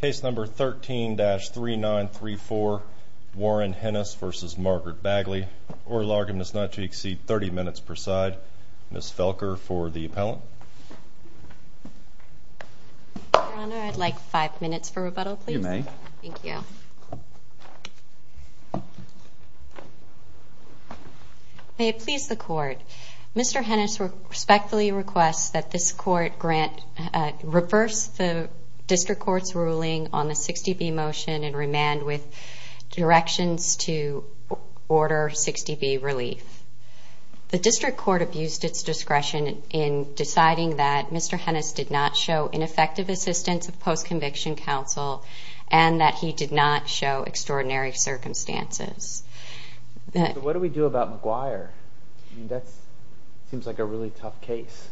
Case number 13-3934, Warren Hennis v. Margaret Bagley. Order of argument is not to exceed 30 minutes per side. Ms. Felker for the appellant. Your Honor, I'd like 5 minutes for rebuttal please. You may. Thank you. May it please the Court, Mr. Hennis respectfully requests that this Court grant, reverse the District Court's ruling on the 60B motion in remand with directions to order 60B relief. The District Court abused its discretion in deciding that Mr. Hennis did not show ineffective assistance of post-conviction counsel and that he did not show extraordinary circumstances. What do we do about McGuire? That seems like a really tough case.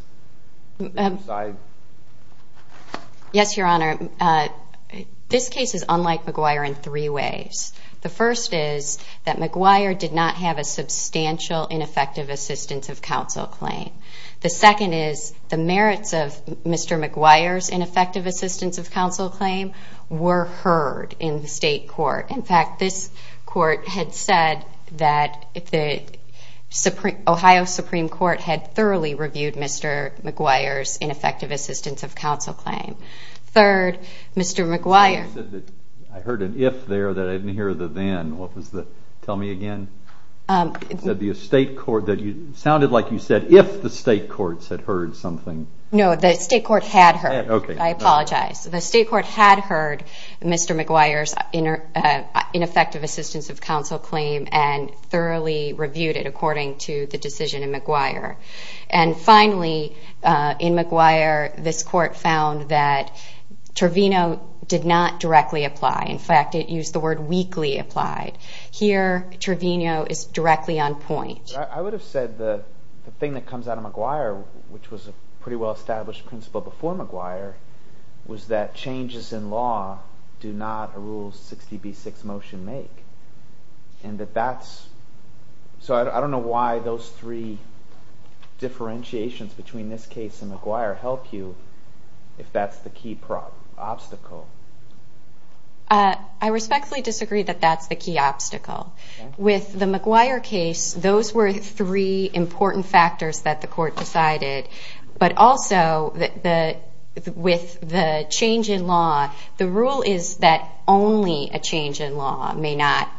Yes, Your Honor. This case is unlike McGuire in three ways. The first is that McGuire did not have a substantial ineffective assistance of counsel claim. The second is the merits of Mr. McGuire's ineffective assistance of counsel claim were heard in the State Court. In fact, this Court had said that the Ohio Supreme Court had thoroughly reviewed Mr. McGuire's ineffective assistance of counsel claim. Third, Mr. McGuire... I heard an if there that I didn't hear the then. Tell me again. It sounded like you said if the State Courts had heard something. No, the State Court had heard. I apologize. The State Court had heard Mr. McGuire's ineffective assistance of counsel claim and thoroughly reviewed it according to the decision in McGuire. And finally, in McGuire, this Court found that Trevino did not directly apply. In fact, it used the word weakly applied. Here, Trevino is directly on point. I would have said the thing that comes out of McGuire, which was a pretty well-established principle before McGuire, was that changes in law do not a Rule 60b-6 motion make. And that that's... So I don't know why those three differentiations between this case and McGuire help you if that's the key obstacle. I respectfully disagree that that's the key obstacle. With the McGuire case, those were three important factors that the Court decided. But also, with the change in law, the rule is that only a change in law may not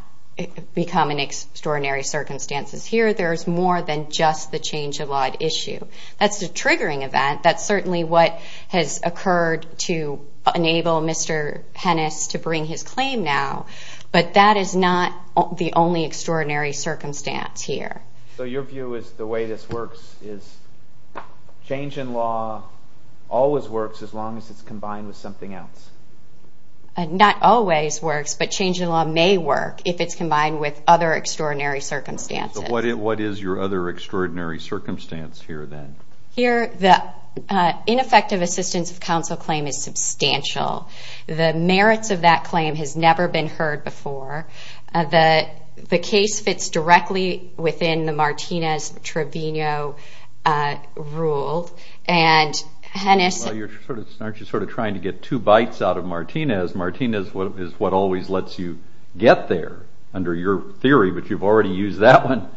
become an extraordinary circumstance. Here, there's more than just the change in law issue. That's a triggering event. That's certainly what has occurred to enable Mr. Hennis to bring his claim now. But that is not the only extraordinary circumstance here. So your view is the way this works is change in law always works as long as it's combined with something else? Not always works, but change in law may work if it's combined with other extraordinary circumstances. So what is your other extraordinary circumstance here, then? Here, the ineffective assistance of counsel claim is substantial. The merits of that claim has never been heard before. The case fits directly within the Martinez-Trevino Rule. Well, aren't you sort of trying to get two bites out of Martinez? Martinez is what always lets you get there, under your theory, but you've already used that one.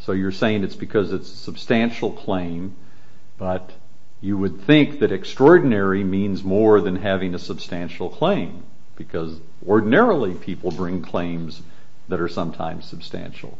So you're saying it's because it's a substantial claim, but you would think that extraordinary means more than having a substantial claim, because ordinarily people bring claims that are sometimes substantial.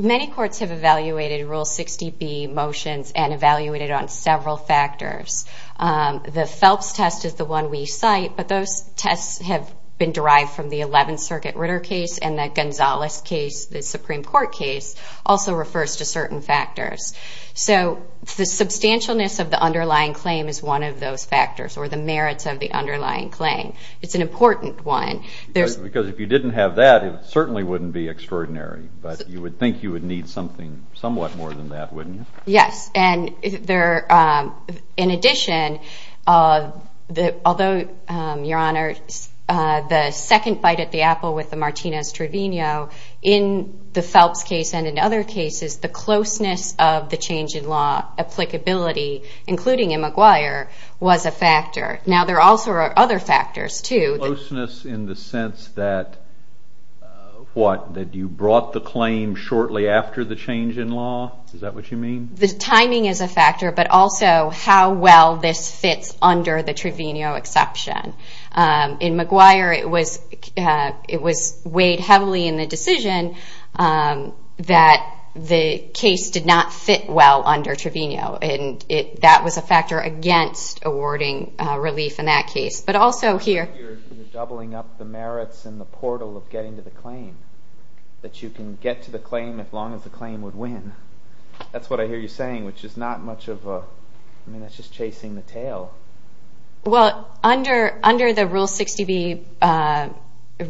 Many courts have evaluated Rule 60B motions and evaluated on several factors. The Phelps test is the one we cite, but those tests have been derived from the Eleventh Circuit Ritter case and the Gonzales case, the Supreme Court case, also refers to certain factors. So the substantialness of the underlying claim is one of those factors, or the merits of the underlying claim. It's an important one. Because if you didn't have that, it certainly wouldn't be extraordinary, but you would think you would need something somewhat more than that, wouldn't you? Yes, and in addition, although, Your Honor, the second bite at the apple with the Martinez-Trevino, in the Phelps case and in other cases, the closeness of the change in law applicability, including in McGuire, was a factor. Now, there are also other factors, too. Closeness in the sense that, what, that you brought the claim shortly after the change in law? Is that what you mean? The timing is a factor, but also how well this fits under the Trevino exception. In McGuire, it was weighed heavily in the decision that the case did not fit well under Trevino, and that was a factor against awarding relief in that case. But also here... You're doubling up the merits and the portal of getting to the claim, that you can get to the claim as long as the claim would win. That's what I hear you saying, which is not much of a... I mean, that's just chasing the tail. Well, under the Rule 60B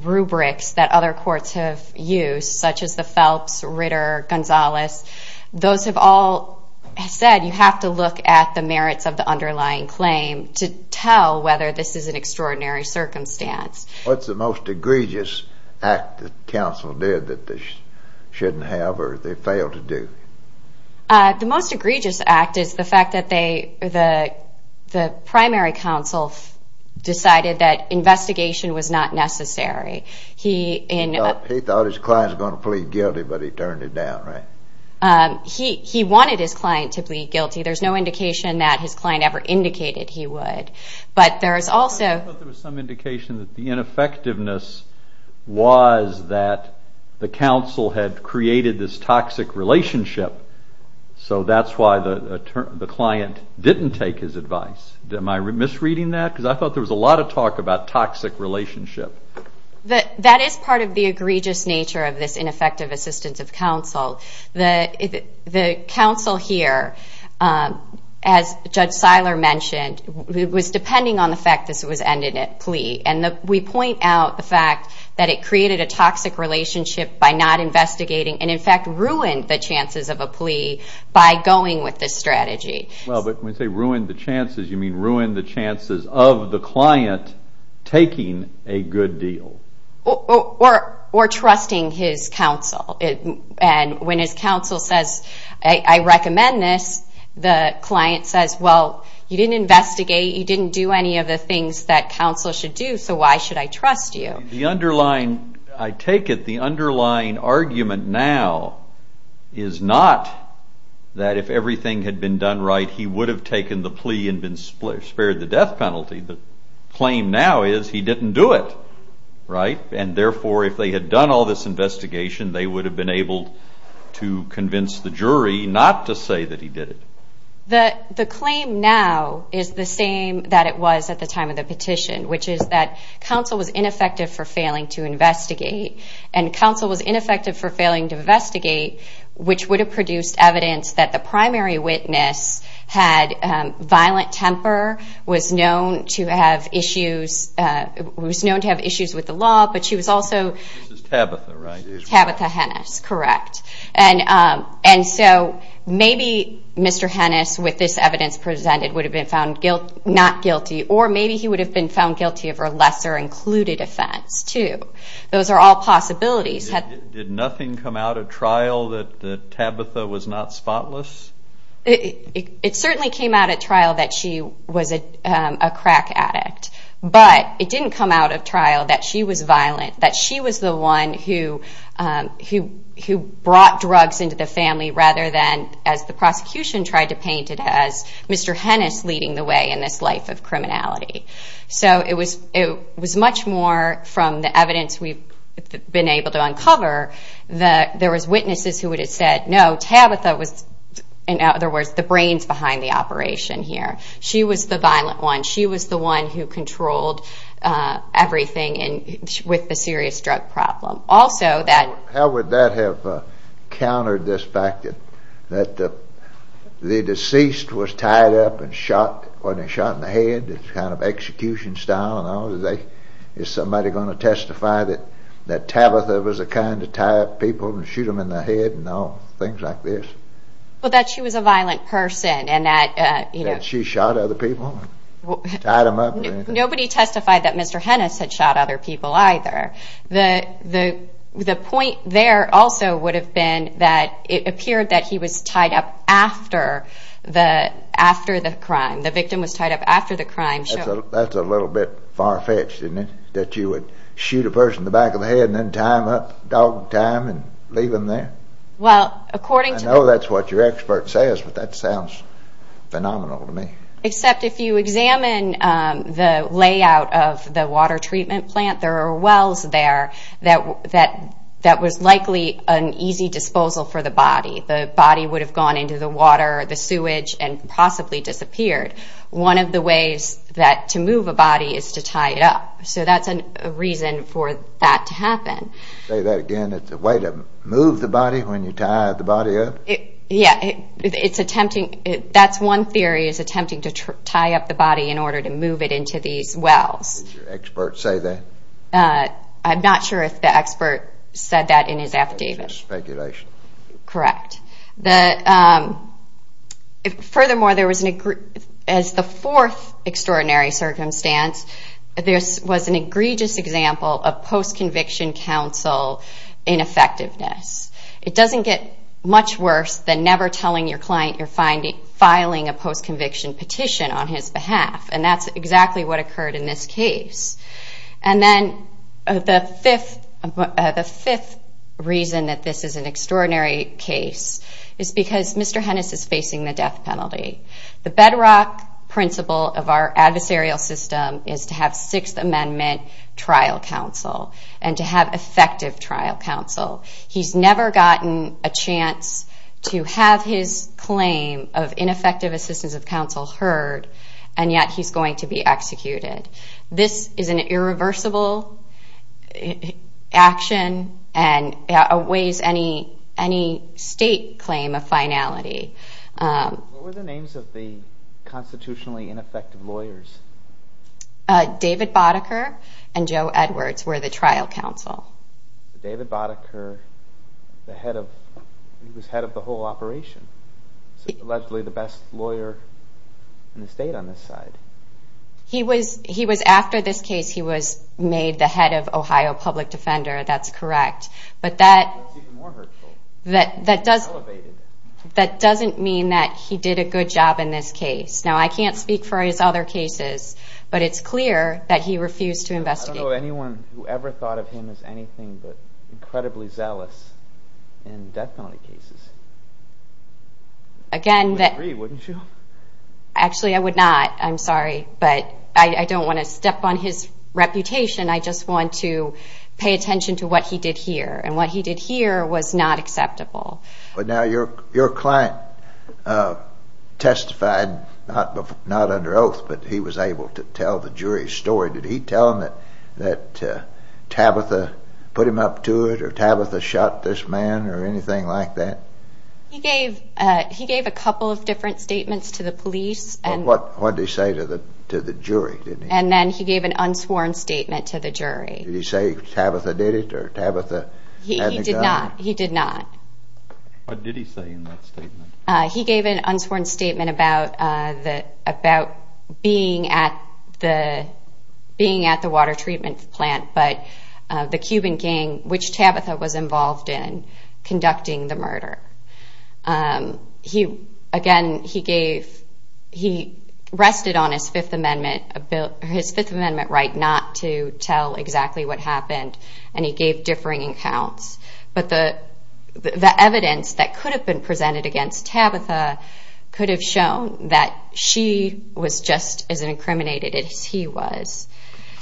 rubrics that other courts have used, such as the Phelps, Ritter, Gonzalez, those have all said you have to look at the merits of the underlying claim to tell whether this is an extraordinary circumstance. What's the most egregious act that counsel did that they shouldn't have or they failed to do? The most egregious act is the fact that the primary counsel decided that investigation was not necessary. He thought his client was going to plead guilty, but he turned it down, right? He wanted his client to plead guilty. There's no indication that his client ever indicated he would, but there's also... I thought there was some indication that the ineffectiveness was that the counsel had created this toxic relationship, so that's why the client didn't take his advice. Am I misreading that? Because I thought there was a lot of talk about toxic relationship. That is part of the egregious nature of this ineffective assistance of counsel. The counsel here, as Judge Seiler mentioned, was depending on the fact this was ended at plea, and we point out the fact that it created a toxic relationship by not investigating and, in fact, ruined the chances of a plea by going with this strategy. Well, but when you say ruined the chances, you mean ruined the chances of the client taking a good deal. Or trusting his counsel, and when his counsel says, I recommend this, the client says, well, you didn't investigate, you didn't do any of the things that counsel should do, so why should I trust you? The underlying, I take it, the underlying argument now is not that if everything had been done right, he would have taken the plea and spared the death penalty. The claim now is he didn't do it, right? And, therefore, if they had done all this investigation, they would have been able to convince the jury not to say that he did it. The claim now is the same that it was at the time of the petition, which is that counsel was ineffective for failing to investigate, and counsel was ineffective for failing to investigate, which would have produced evidence that the primary witness had violent temper, was known to have issues with the law, but she was also... This is Tabitha, right? Tabitha Hennis, correct. And so maybe Mr. Hennis, with this evidence presented, would have been found not guilty, or maybe he would have been found guilty of her lesser included offense, too. Those are all possibilities. Did nothing come out of trial that Tabitha was not spotless? It certainly came out of trial that she was a crack addict, but it didn't come out of trial that she was violent, that she was the one who brought drugs into the family rather than, as the prosecution tried to paint it, as Mr. Hennis leading the way in this life of criminality. So it was much more from the evidence we've been able to uncover that there was witnesses who would have said, no, Tabitha was, in other words, the brains behind the operation here. She was the violent one. She was the one who controlled everything with the serious drug problem. How would that have countered this fact that the deceased was tied up and shot in the head? It's kind of execution style and all. Is somebody going to testify that Tabitha was the kind to tie up people and shoot them in the head and all? Things like this. Well, that she was a violent person. That she shot other people? Tied them up? Nobody testified that Mr. Hennis had shot other people, either. The point there also would have been that it appeared that he was tied up after the crime. The victim was tied up after the crime. That's a little bit far-fetched, isn't it? That you would shoot a person in the back of the head and then tie them up, dog time, and leave them there? Well, according to the... I know that's what your expert says, but that sounds phenomenal to me. Except if you examine the layout of the water treatment plant, there are wells there that was likely an easy disposal for the body. The body would have gone into the water, the sewage, and possibly disappeared. One of the ways to move a body is to tie it up. So that's a reason for that to happen. Say that again, it's a way to move the body when you tie the body up? Yeah, it's attempting... That's one theory, is attempting to tie up the body in order to move it into these wells. Did your expert say that? I'm not sure if the expert said that in his affidavit. Speculation. Correct. Furthermore, there was an... As the fourth extraordinary circumstance, this was an egregious example of post-conviction counsel ineffectiveness. It doesn't get much worse than never telling your client you're filing a post-conviction petition on his behalf. And that's exactly what occurred in this case. And then the fifth reason that this is an extraordinary case is because Mr. Hennis is facing the death penalty. The bedrock principle of our adversarial system is to have Sixth Amendment trial counsel and to have effective trial counsel. He's never gotten a chance to have his claim of ineffective assistance of counsel heard, and yet he's going to be executed. This is an irreversible action and it outweighs any state claim of finality. What were the names of the constitutionally ineffective lawyers? David Boddicker and Joe Edwards were the trial counsel. David Boddicker, the head of... He was head of the whole operation. Allegedly the best lawyer in the state on this side. He was... After this case, he was made the head of Ohio Public Defender. That's correct. But that... That's even more hurtful. That doesn't... Elevated. That doesn't mean that he did a good job in this case. Now, I can't speak for his other cases, but it's clear that he refused to investigate. I don't know anyone who ever thought of him as anything but incredibly zealous in death penalty cases. Again, that... You would agree, wouldn't you? Actually, I would not. I'm sorry, but I don't want to step on his reputation. I just want to pay attention to what he did here, and what he did here was not acceptable. But now your client testified not under oath, but he was able to tell the jury's story. Did he tell them that Tabitha put him up to it, or Tabitha shot this man, or anything like that? He gave a couple of different statements to the police. What did he say to the jury? And then he gave an unsworn statement to the jury. Did he say Tabitha did it, or Tabitha had the gun? He did not. What did he say in that statement? He gave an unsworn statement about being at the water treatment plant, but the Cuban gang, which Tabitha was involved in, conducting the murder. Again, he gave... He rested on his Fifth Amendment right not to tell exactly what happened, and he gave differing accounts. But the evidence that could have been presented against Tabitha could have shown that she was just as incriminated as he was.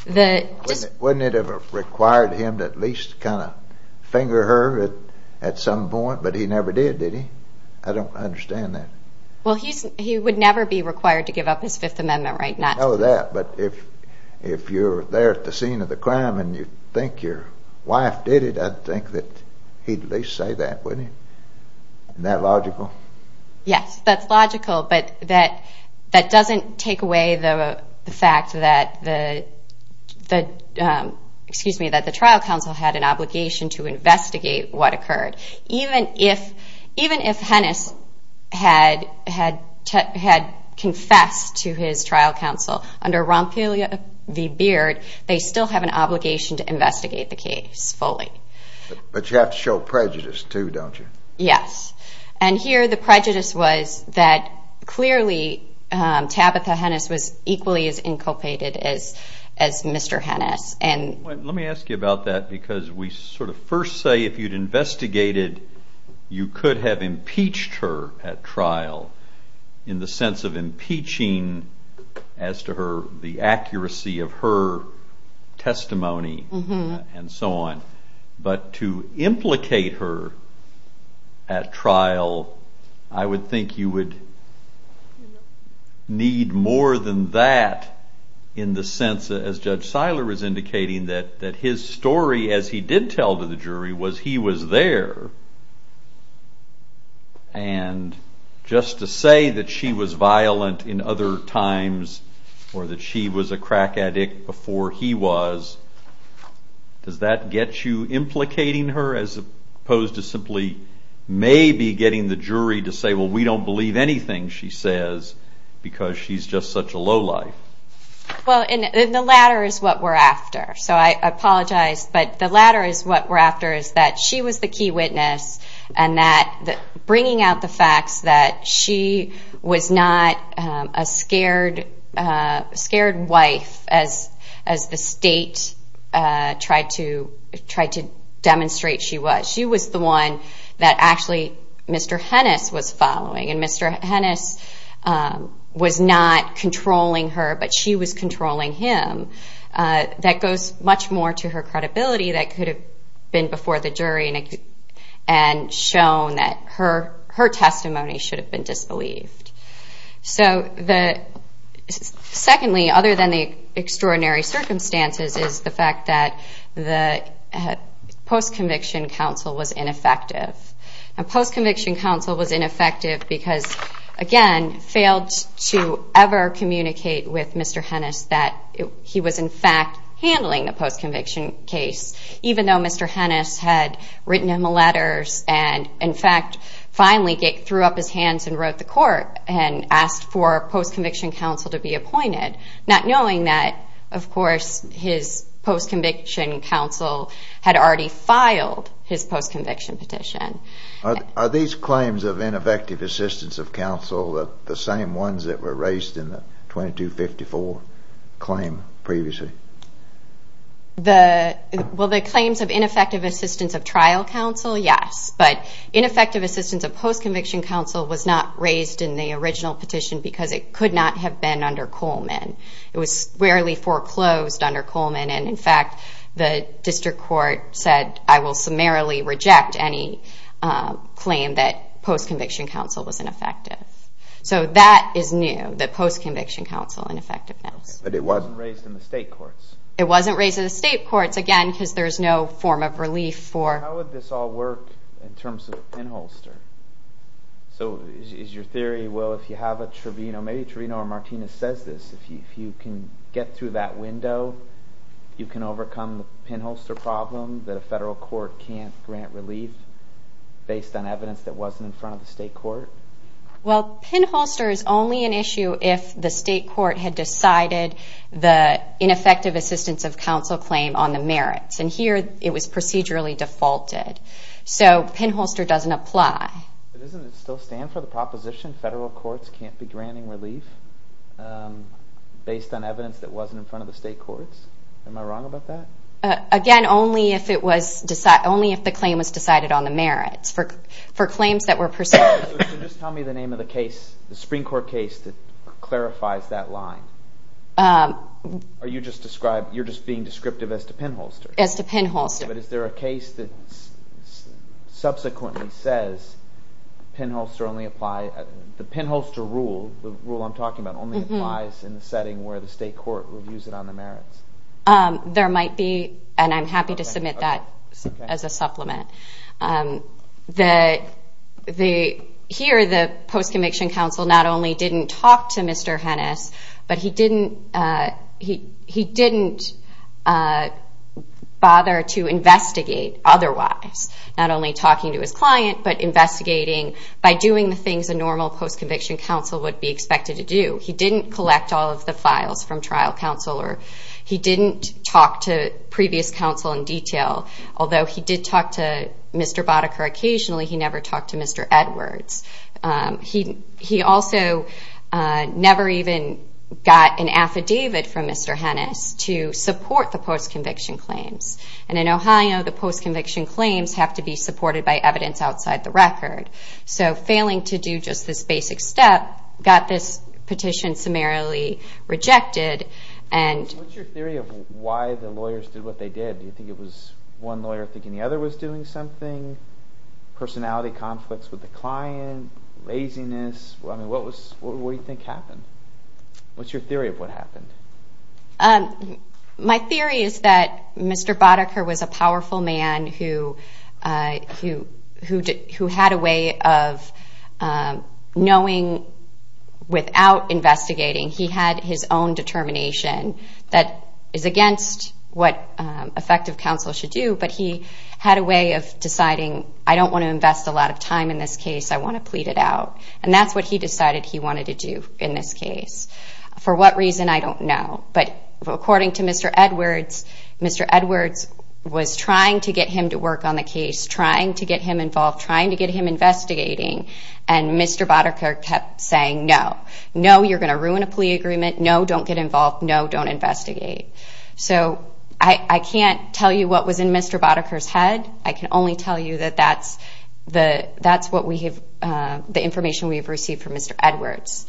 Wouldn't it have required him to at least kind of finger her at some point? But he never did, did he? I don't understand that. Well, he would never be required to give up his Fifth Amendment right not to. I know that, but if you're there at the scene of the crime and you think your wife did it, I'd think that he'd at least say that, wouldn't he? Isn't that logical? Yes, that's logical, but that doesn't take away the fact that the trial counsel had an obligation to investigate what occurred. Even if Hennis had confessed to his trial counsel under Ronpelia v. Beard, they still have an obligation to investigate the case fully. But you have to show prejudice too, don't you? Yes. And here the prejudice was that clearly Tabitha Hennis was equally as inculpated as Mr. Hennis. Let me ask you about that because we sort of first say if you'd investigated, you could have impeached her at trial in the sense of impeaching as to her, the accuracy of her testimony and so on. But to implicate her at trial, I would think you would need more than that in the sense, as Judge Seiler was indicating, that his story, as he did tell to the jury, was he was there. And just to say that she was violent in other times or that she was a crack addict before he was, does that get you implicating her as opposed to simply maybe getting the jury to say, well, we don't believe anything she says because she's just such a low life? Well, the latter is what we're after. So I apologize, but the latter is what we're after is that she was the key witness and bringing out the facts that she was not a scared wife as the state tried to demonstrate she was. She was the one that actually Mr. Hennis was following, and Mr. Hennis was not controlling her, but she was controlling him. That goes much more to her credibility that could have been before the jury and shown that her testimony should have been disbelieved. So secondly, other than the extraordinary circumstances, is the fact that the post-conviction counsel was ineffective. And post-conviction counsel was ineffective because, again, failed to ever communicate with Mr. Hennis that he was, in fact, handling the post-conviction case, even though Mr. Hennis had written him letters and, in fact, finally threw up his hands and wrote the court and asked for post-conviction counsel to be appointed, not knowing that, of course, his post-conviction counsel had already filed his post-conviction petition. Are these claims of ineffective assistance of counsel the same ones that were raised in the 2254 claim previously? Well, the claims of ineffective assistance of trial counsel, yes, but ineffective assistance of post-conviction counsel was not raised in the original petition because it could not have been under Coleman. It was rarely foreclosed under Coleman, and, in fact, the district court said, I will summarily reject any claim that post-conviction counsel was ineffective. So that is new, that post-conviction counsel ineffectiveness. But it wasn't raised in the state courts. It wasn't raised in the state courts, again, because there's no form of relief for... How would this all work in terms of a pinholster? So is your theory, well, if you have a tribunal, maybe a tribunal or Martinez says this, if you can get through that window, you can overcome the pinholster problem that a federal court can't grant relief based on evidence that wasn't in front of the state court? Well, pinholster is only an issue if the state court had decided the ineffective assistance of counsel claim on the merits, and here it was procedurally defaulted. So pinholster doesn't apply. But doesn't it still stand for the proposition federal courts can't be granting relief based on evidence that wasn't in front of the state courts? Am I wrong about that? Again, only if the claim was decided on the merits. For claims that were procedurally... So just tell me the name of the case, the Supreme Court case that clarifies that line. Or you're just being descriptive as to pinholster? As to pinholster. But is there a case that subsequently says the pinholster rule, the rule I'm talking about, only applies in the setting where the state court reviews it on the merits? There might be, and I'm happy to submit that as a supplement. Here the post-conviction counsel not only didn't talk to Mr. Hennis, but he didn't bother to investigate otherwise, not only talking to his client, but investigating by doing the things a normal post-conviction counsel would be expected to do. He didn't collect all of the files from trial counsel, or he didn't talk to previous counsel in detail, although he did talk to Mr. Boddicker occasionally. He never talked to Mr. Edwards. He also never even got an affidavit from Mr. Hennis to support the post-conviction claims. And in Ohio, the post-conviction claims have to be supported by evidence outside the record. So failing to do just this basic step got this petition summarily rejected. What's your theory of why the lawyers did what they did? Do you think it was one lawyer thinking the other was doing something? Personality conflicts with the client, laziness. I mean, what do you think happened? What's your theory of what happened? My theory is that Mr. Boddicker was a powerful man who had a way of knowing without investigating. He had his own determination that is against what effective counsel should do, but he had a way of deciding, I don't want to invest a lot of time in this case. I want to plead it out. And that's what he decided he wanted to do in this case. For what reason, I don't know. But according to Mr. Edwards, Mr. Edwards was trying to get him to work on the case, trying to get him involved, trying to get him investigating, and Mr. Boddicker kept saying no. No, you're going to ruin a plea agreement. No, don't get involved. No, don't investigate. So I can't tell you what was in Mr. Boddicker's head. I can only tell you that that's the information we have received from Mr. Edwards.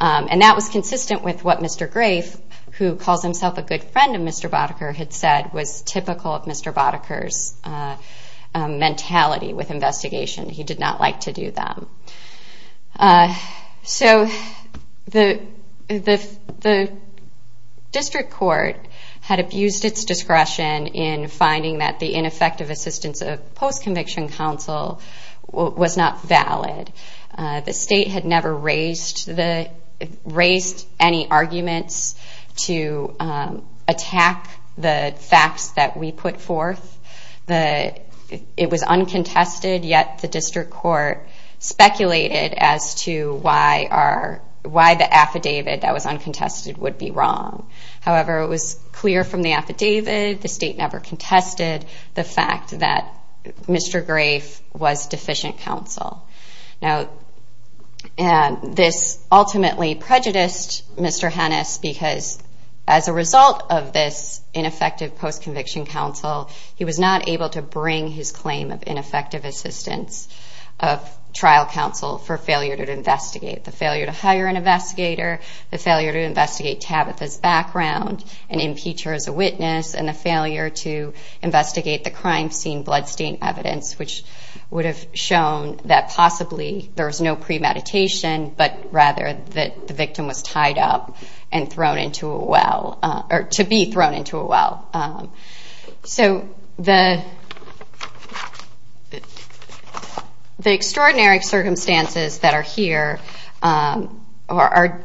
And that was consistent with what Mr. Grafe, who calls himself a good friend of Mr. Boddicker, had said was typical of Mr. Boddicker's mentality with investigation. He did not like to do them. So the district court had abused its discretion in finding that the ineffective assistance of post-conviction counsel was not valid. The state had never raised any arguments to attack the facts that we put forth. It was uncontested, yet the district court speculated as to why the affidavit that was uncontested would be wrong. However, it was clear from the affidavit, the state never contested the fact that Mr. Grafe was deficient counsel. Now, this ultimately prejudiced Mr. Hennis because as a result of this ineffective post-conviction counsel, he was not able to bring his claim of ineffective assistance of trial counsel for failure to investigate. The failure to hire an investigator, the failure to investigate Tabitha's background and impeach her as a witness, and the failure to investigate the crime scene bloodstain evidence, which would have shown that possibly there was no premeditation, but rather that the victim was tied up and thrown into a well or to be thrown into a well. So the extraordinary circumstances that are here are,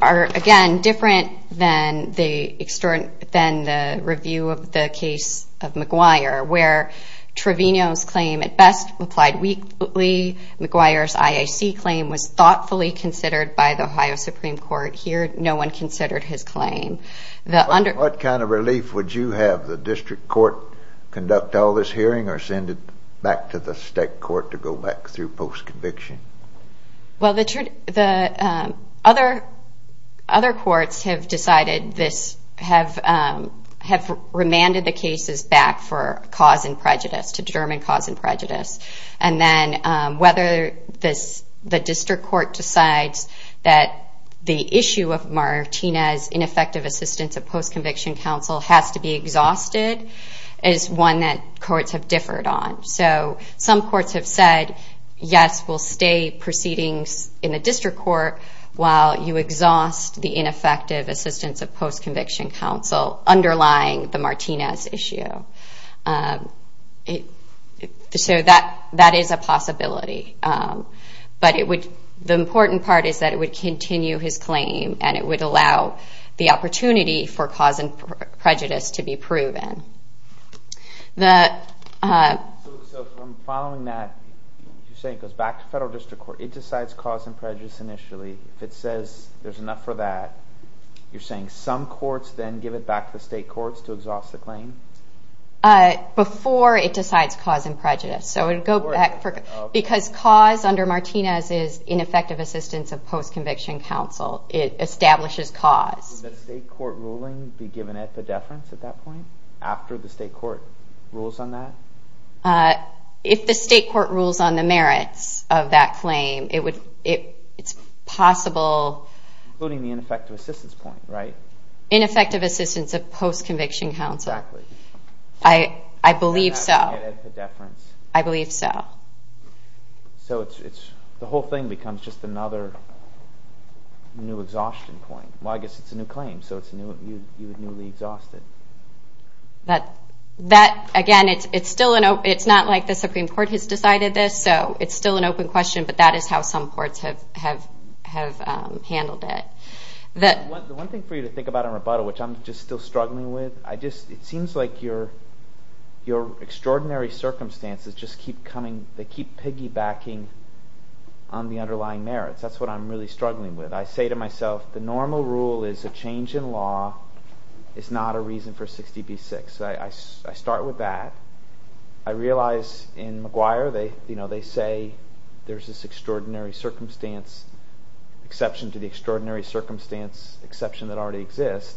again, different than the review of the case of McGuire, where Trevino's claim at best applied weakly. McGuire's IAC claim was thoughtfully considered by the Ohio Supreme Court. Here, no one considered his claim. What kind of relief would you have the district court conduct all this hearing or send it back to the state court to go back through post-conviction? Well, other courts have decided this, have remanded the cases back for cause and prejudice, to determine cause and prejudice. And then whether the district court decides that the issue of Martinez, ineffective assistance of post-conviction counsel, has to be exhausted is one that courts have differed on. So some courts have said, yes, we'll stay proceedings in the district court while you exhaust the ineffective assistance of post-conviction counsel underlying the Martinez issue. So that is a possibility. But the important part is that it would continue his claim and it would allow the opportunity for cause and prejudice to be proven. So from following that, you're saying it goes back to federal district court. It decides cause and prejudice initially. If it says there's enough for that, you're saying some courts then give it back to the state courts to exhaust the claim? Before it decides cause and prejudice. Because cause under Martinez is ineffective assistance of post-conviction counsel. It establishes cause. Would the state court ruling be given at the deference at that point, after the state court rules on that? If the state court rules on the merits of that claim, it's possible. Including the ineffective assistance point, right? Ineffective assistance of post-conviction counsel. Exactly. I believe so. At the deference. I believe so. So the whole thing becomes just another new exhaustion point. Well, I guess it's a new claim, so you would newly exhaust it. Again, it's not like the Supreme Court has decided this, so it's still an open question, but that is how some courts have handled it. The one thing for you to think about in rebuttal, which I'm just still struggling with, it seems like your extraordinary circumstances just keep coming, they keep piggybacking on the underlying merits. That's what I'm really struggling with. I say to myself, the normal rule is a change in law is not a reason for 60 v. 6. I start with that. I realize in McGuire they say there's this extraordinary circumstance, exception to the extraordinary circumstance, exception that already exists.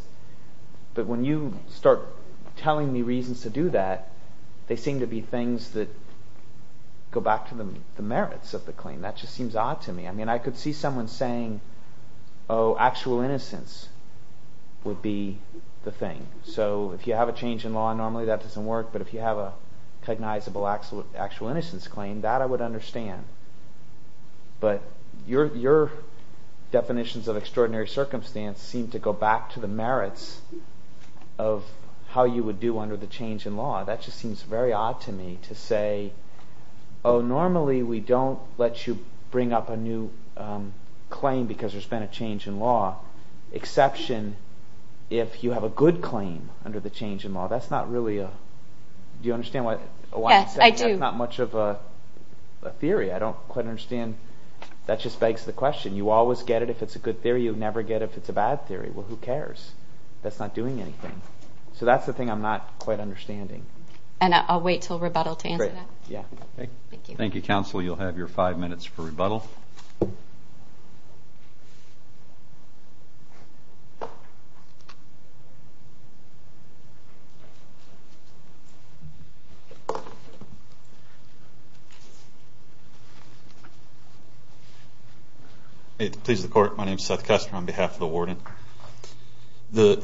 But when you start telling me reasons to do that, they seem to be things that go back to the merits of the claim. That just seems odd to me. I mean, I could see someone saying, oh, actual innocence would be the thing. So if you have a change in law, normally that doesn't work, but if you have a cognizable actual innocence claim, that I would understand. But your definitions of extraordinary circumstance seem to go back to the merits of how you would do under the change in law. That just seems very odd to me to say, oh, normally we don't let you bring up a new claim because there's been a change in law, exception if you have a good claim under the change in law. That's not really a—do you understand what I'm saying? Yes, I do. That's not much of a theory. I don't quite understand. That just begs the question. You always get it if it's a good theory. You never get it if it's a bad theory. Well, who cares? That's not doing anything. So that's the thing I'm not quite understanding. And I'll wait until rebuttal to answer that. Great. Thank you. Thank you, counsel. You'll have your five minutes for rebuttal. Please. Please, the Court. My name is Seth Kessler on behalf of the Warden. The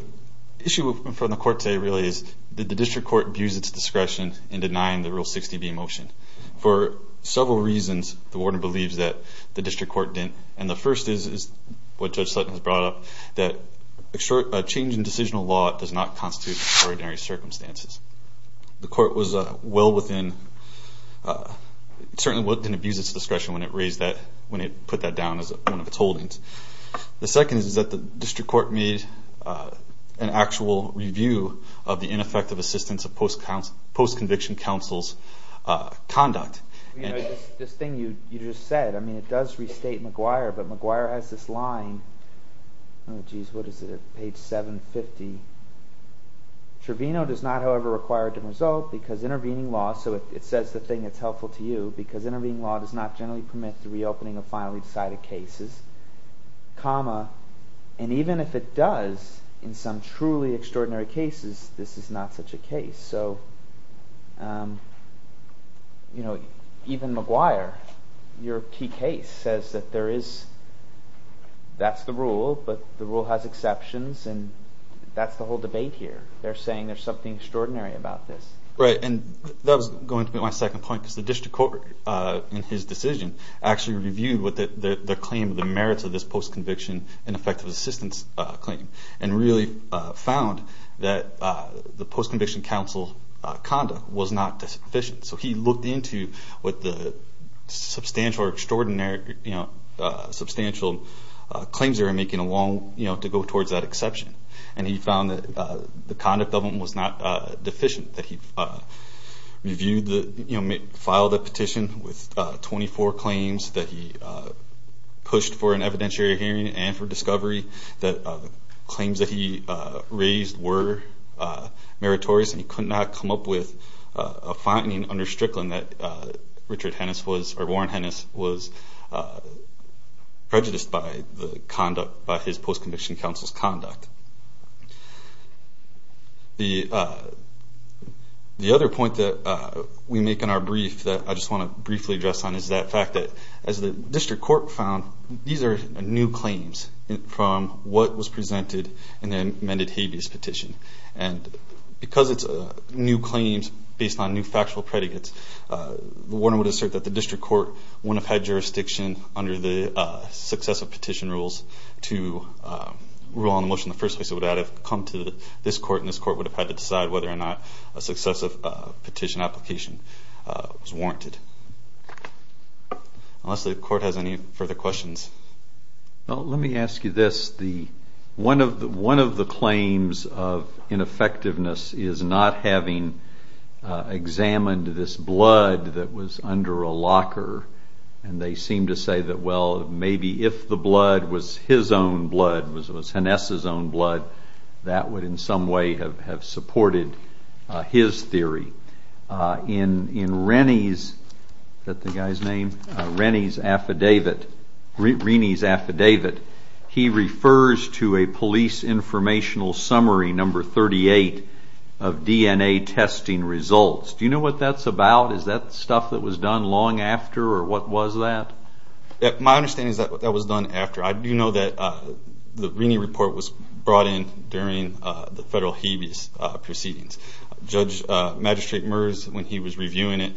issue from the Court today really is did the District Court abuse its discretion in denying the Rule 60b motion? For several reasons, the Warden believes that the District Court didn't, and the first is what Judge Sutton has brought up, that change in decisional law does not constitute extraordinary circumstances. The Court was well within—certainly didn't abuse its discretion when it put that down as one of its holdings. The second is that the District Court made an actual review of the ineffective assistance of post-conviction counsel's conduct. This thing you just said, I mean, it does restate McGuire, but McGuire has this line. Oh, jeez, what is it? Page 750. Trevino does not, however, require a different result because intervening law— so it says the thing that's helpful to you— because intervening law does not generally permit the reopening of finally decided cases, comma, and even if it does in some truly extraordinary cases, this is not such a case. So, you know, even McGuire, your key case, says that there is—that's the rule, but the rule has exceptions, and that's the whole debate here. They're saying there's something extraordinary about this. Right, and that was going to be my second point because the District Court, in his decision, actually reviewed the claim, the merits of this post-conviction ineffective assistance claim, and really found that the post-conviction counsel's conduct was not sufficient. So he looked into what the substantial or extraordinary, you know, substantial claims they were making along, you know, to go towards that exception, and he found that the conduct of them was not deficient, that he reviewed the—filed a petition with 24 claims, that he pushed for an evidentiary hearing and for discovery, that claims that he raised were meritorious, and he could not come up with a finding under Strickland that Richard Hennis was— or Warren Hennis was prejudiced by the conduct, by his post-conviction counsel's conduct. The other point that we make in our brief that I just want to briefly address on is that fact that, as the District Court found, these are new claims from what was presented in the amended habeas petition. And because it's new claims based on new factual predicates, Warren would assert that the District Court wouldn't have had jurisdiction under the successive petition rules to rule on the motion in the first place. It would have had to come to this court, and this court would have had to decide whether or not a successive petition application was warranted. Unless the court has any further questions. Well, let me ask you this. One of the claims of ineffectiveness is not having examined this blood that was under a locker, and they seem to say that, well, maybe if the blood was his own blood, was Hennis' own blood, that would in some way have supported his theory. In Rennie's affidavit, he refers to a police informational summary number 38 of DNA testing results. Do you know what that's about? Is that stuff that was done long after, or what was that? My understanding is that that was done after. I do know that the Rennie report was brought in during the federal habeas proceedings. Judge Magistrate Merz, when he was reviewing it,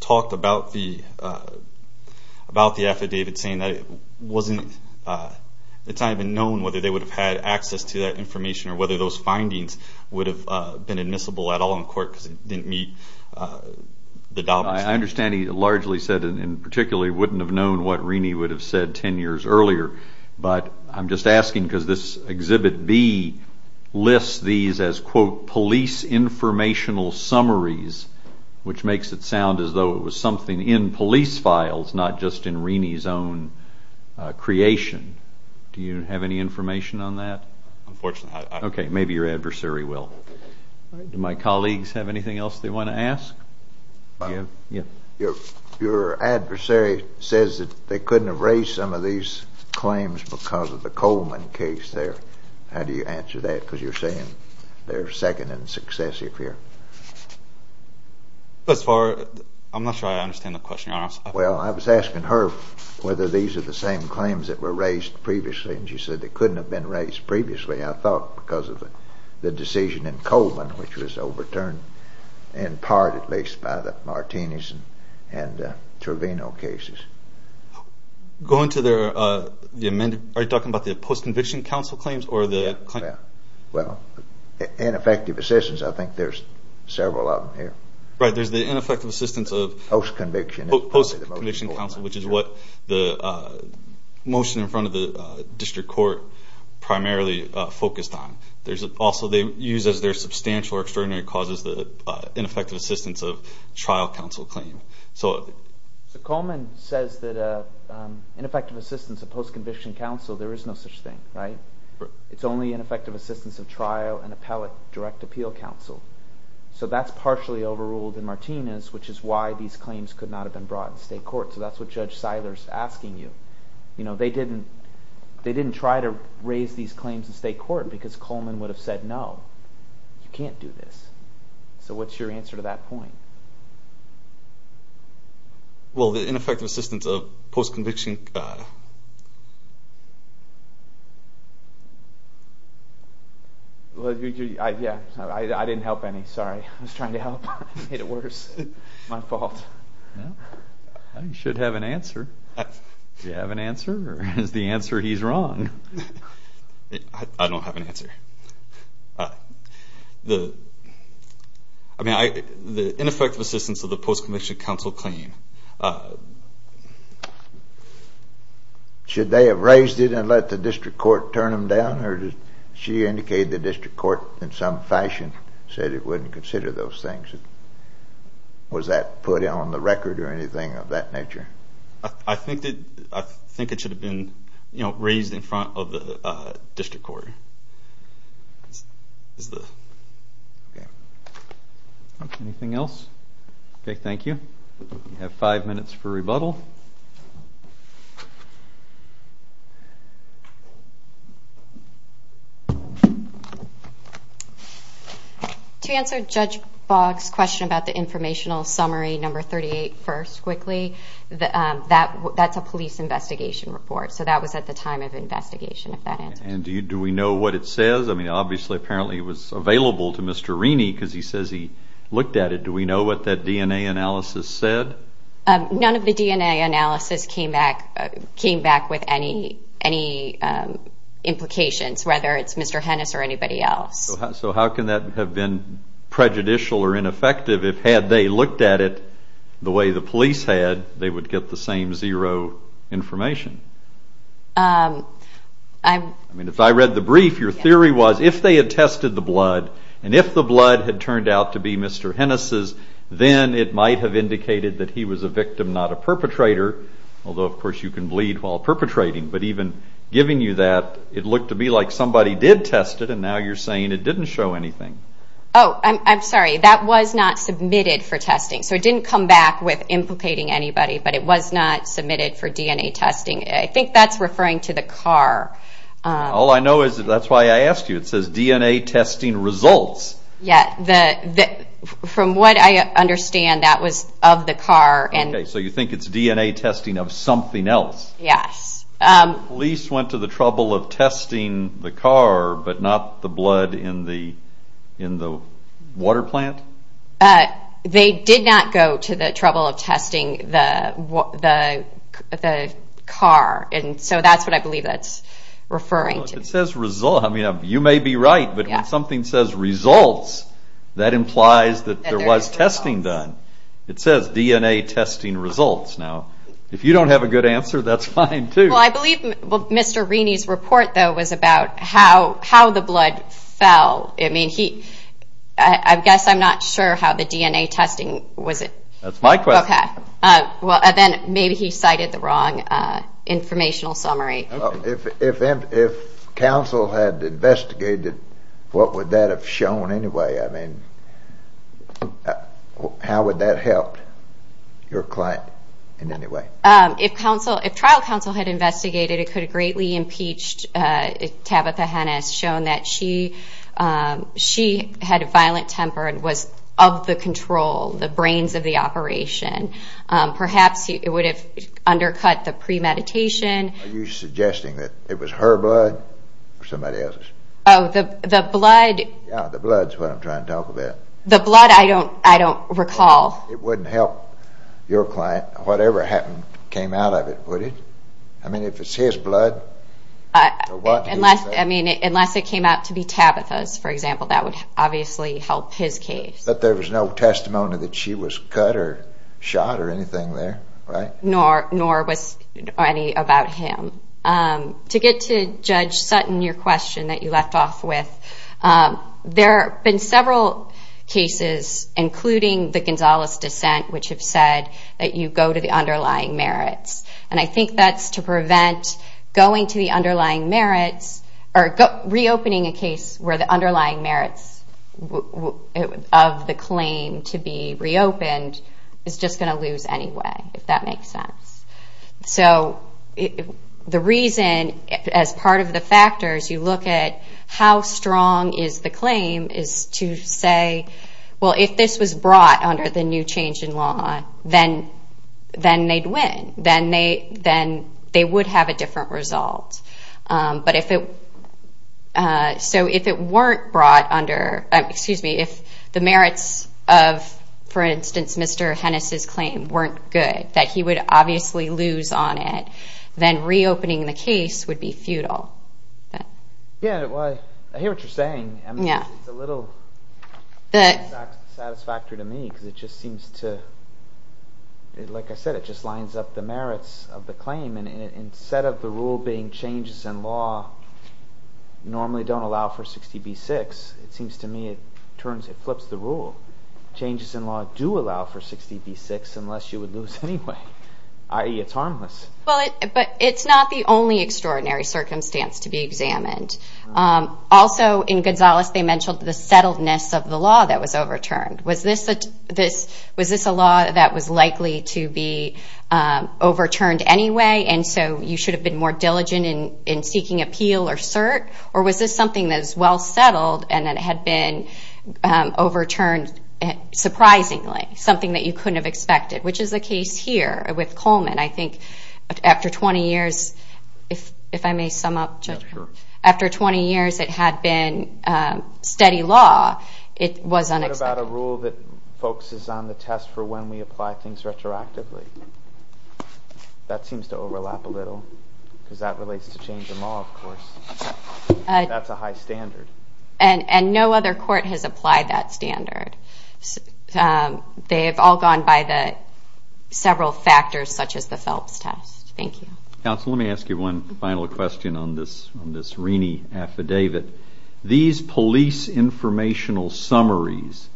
talked about the affidavit, saying that it's not even known whether they would have had access to that information or whether those findings would have been admissible at all in court because it didn't meet the documents. I understand he largely said and particularly wouldn't have known what Rennie would have said 10 years earlier, but I'm just asking because this Exhibit B lists these as, quote, police informational summaries, which makes it sound as though it was something in police files, not just in Rennie's own creation. Do you have any information on that? Unfortunately, I don't. Okay, maybe your adversary will. Do my colleagues have anything else they want to ask? Your adversary says that they couldn't have raised some of these claims because of the Coleman case there. How do you answer that because you're saying they're second and successive here? As far as, I'm not sure I understand the question you're asking. Well, I was asking her whether these are the same claims that were raised previously, and she said they couldn't have been raised previously, I thought, because of the decision in Coleman, which was overturned in part, at least, by the Martinez and Trevino cases. Are you talking about the post-conviction counsel claims? Well, ineffective assistance, I think there's several of them here. Right, there's the ineffective assistance of post-conviction counsel, which is what the motion in front of the district court primarily focused on. Also, they use as their substantial or extraordinary causes the ineffective assistance of trial counsel claim. So Coleman says that ineffective assistance of post-conviction counsel, there is no such thing, right? It's only ineffective assistance of trial and appellate direct appeal counsel. So that's partially overruled in Martinez, which is why these claims could not have been brought in state court. So that's what Judge Seiler is asking you. They didn't try to raise these claims in state court because Coleman would have said, no, you can't do this. So what's your answer to that point? Well, the ineffective assistance of post-conviction… Yeah, I didn't help any, sorry. I was trying to help. I made it worse. My fault. You should have an answer. Do you have an answer, or is the answer he's wrong? I don't have an answer. The ineffective assistance of the post-conviction counsel claim, should they have raised it and let the district court turn them down, or did she indicate the district court in some fashion said it wouldn't consider those things? Was that put on the record or anything of that nature? I think it should have been raised in front of the district court. Anything else? Okay, thank you. You have five minutes for rebuttal. To answer Judge Boggs' question about the informational summary number 38 first quickly, that's a police investigation report, so that was at the time of investigation, if that answers. And do we know what it says? I mean, obviously, apparently it was available to Mr. Reaney because he says he looked at it. Do we know what that DNA analysis said? None of the DNA analysis came back with any implications, whether it's Mr. Hennis or anybody else. So how can that have been prejudicial or ineffective if, had they looked at it the way the police had, they would get the same zero information? I mean, if I read the brief, your theory was if they had tested the blood, and if the blood had turned out to be Mr. Hennis's, then it might have indicated that he was a victim, not a perpetrator, although, of course, you can bleed while perpetrating. But even giving you that, it looked to me like somebody did test it, and now you're saying it didn't show anything. Oh, I'm sorry. That was not submitted for testing. So it didn't come back with implicating anybody, but it was not submitted for DNA testing. I think that's referring to the car. All I know is that's why I asked you. It says DNA testing results. Yeah, from what I understand, that was of the car. Okay, so you think it's DNA testing of something else. Yes. The police went to the trouble of testing the car, but not the blood in the water plant? They did not go to the trouble of testing the car. And so that's what I believe that's referring to. It says results. I mean, you may be right, but when something says results, that implies that there was testing done. It says DNA testing results. Now, if you don't have a good answer, that's fine, too. Well, I believe Mr. Rini's report, though, was about how the blood fell. I mean, I guess I'm not sure how the DNA testing was it. That's my question. Well, then maybe he cited the wrong informational summary. If counsel had investigated, what would that have shown anyway? I mean, how would that help your client in any way? If trial counsel had investigated, it could have greatly impeached Tabitha Hennis, shown that she had a violent temper and was of the control, the brains of the operation. Perhaps it would have undercut the premeditation. Are you suggesting that it was her blood or somebody else's? Oh, the blood. Yeah, the blood is what I'm trying to talk about. The blood, I don't recall. It wouldn't help your client, whatever came out of it, would it? I mean, if it's his blood. Unless it came out to be Tabitha's, for example, that would obviously help his case. But there was no testimony that she was cut or shot or anything there, right? Nor was any about him. To get to Judge Sutton, your question that you left off with, there have been several cases, including the Gonzalez dissent, which have said that you go to the underlying merits. And I think that's to prevent going to the underlying merits or reopening a case where the underlying merits of the claim to be reopened is just going to lose anyway, if that makes sense. So the reason, as part of the factors, you look at how strong is the claim is to say, well, if this was brought under the new change in law, then they'd win. Then they would have a different result. But if it weren't brought under, excuse me, if the merits of, for instance, Mr. Hennis' claim weren't good, that he would obviously lose on it, then reopening the case would be futile. Yeah, well, I hear what you're saying. I mean, it's a little dissatisfactory to me because it just seems to, like I said, it just lines up the merits of the claim. And instead of the rule being changes in law normally don't allow for 60 v. 6, it seems to me it flips the rule. Changes in law do allow for 60 v. 6 unless you would lose anyway, i.e. it's harmless. But it's not the only extraordinary circumstance to be examined. Also, in Gonzalez, they mentioned the settledness of the law that was overturned. Was this a law that was likely to be overturned anyway, and so you should have been more diligent in seeking appeal or cert? Or was this something that was well settled and then had been overturned surprisingly, something that you couldn't have expected, which is the case here with Coleman. I think after 20 years, if I may sum up. After 20 years, it had been steady law. It was unexpected. What about a rule that focuses on the test for when we apply things retroactively? That seems to overlap a little because that relates to change in law, of course. That's a high standard. And no other court has applied that standard. They have all gone by the several factors such as the Phelps test. Thank you. Counsel, let me ask you one final question on this Rini affidavit. These police informational summaries,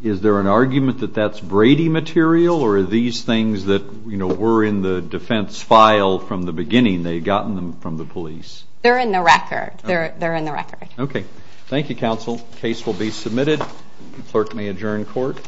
is there an argument that that's Brady material or are these things that were in the defense file from the beginning? They had gotten them from the police. They're in the record. They're in the record. Okay. Thank you, counsel. Case will be submitted. Clerk may adjourn court.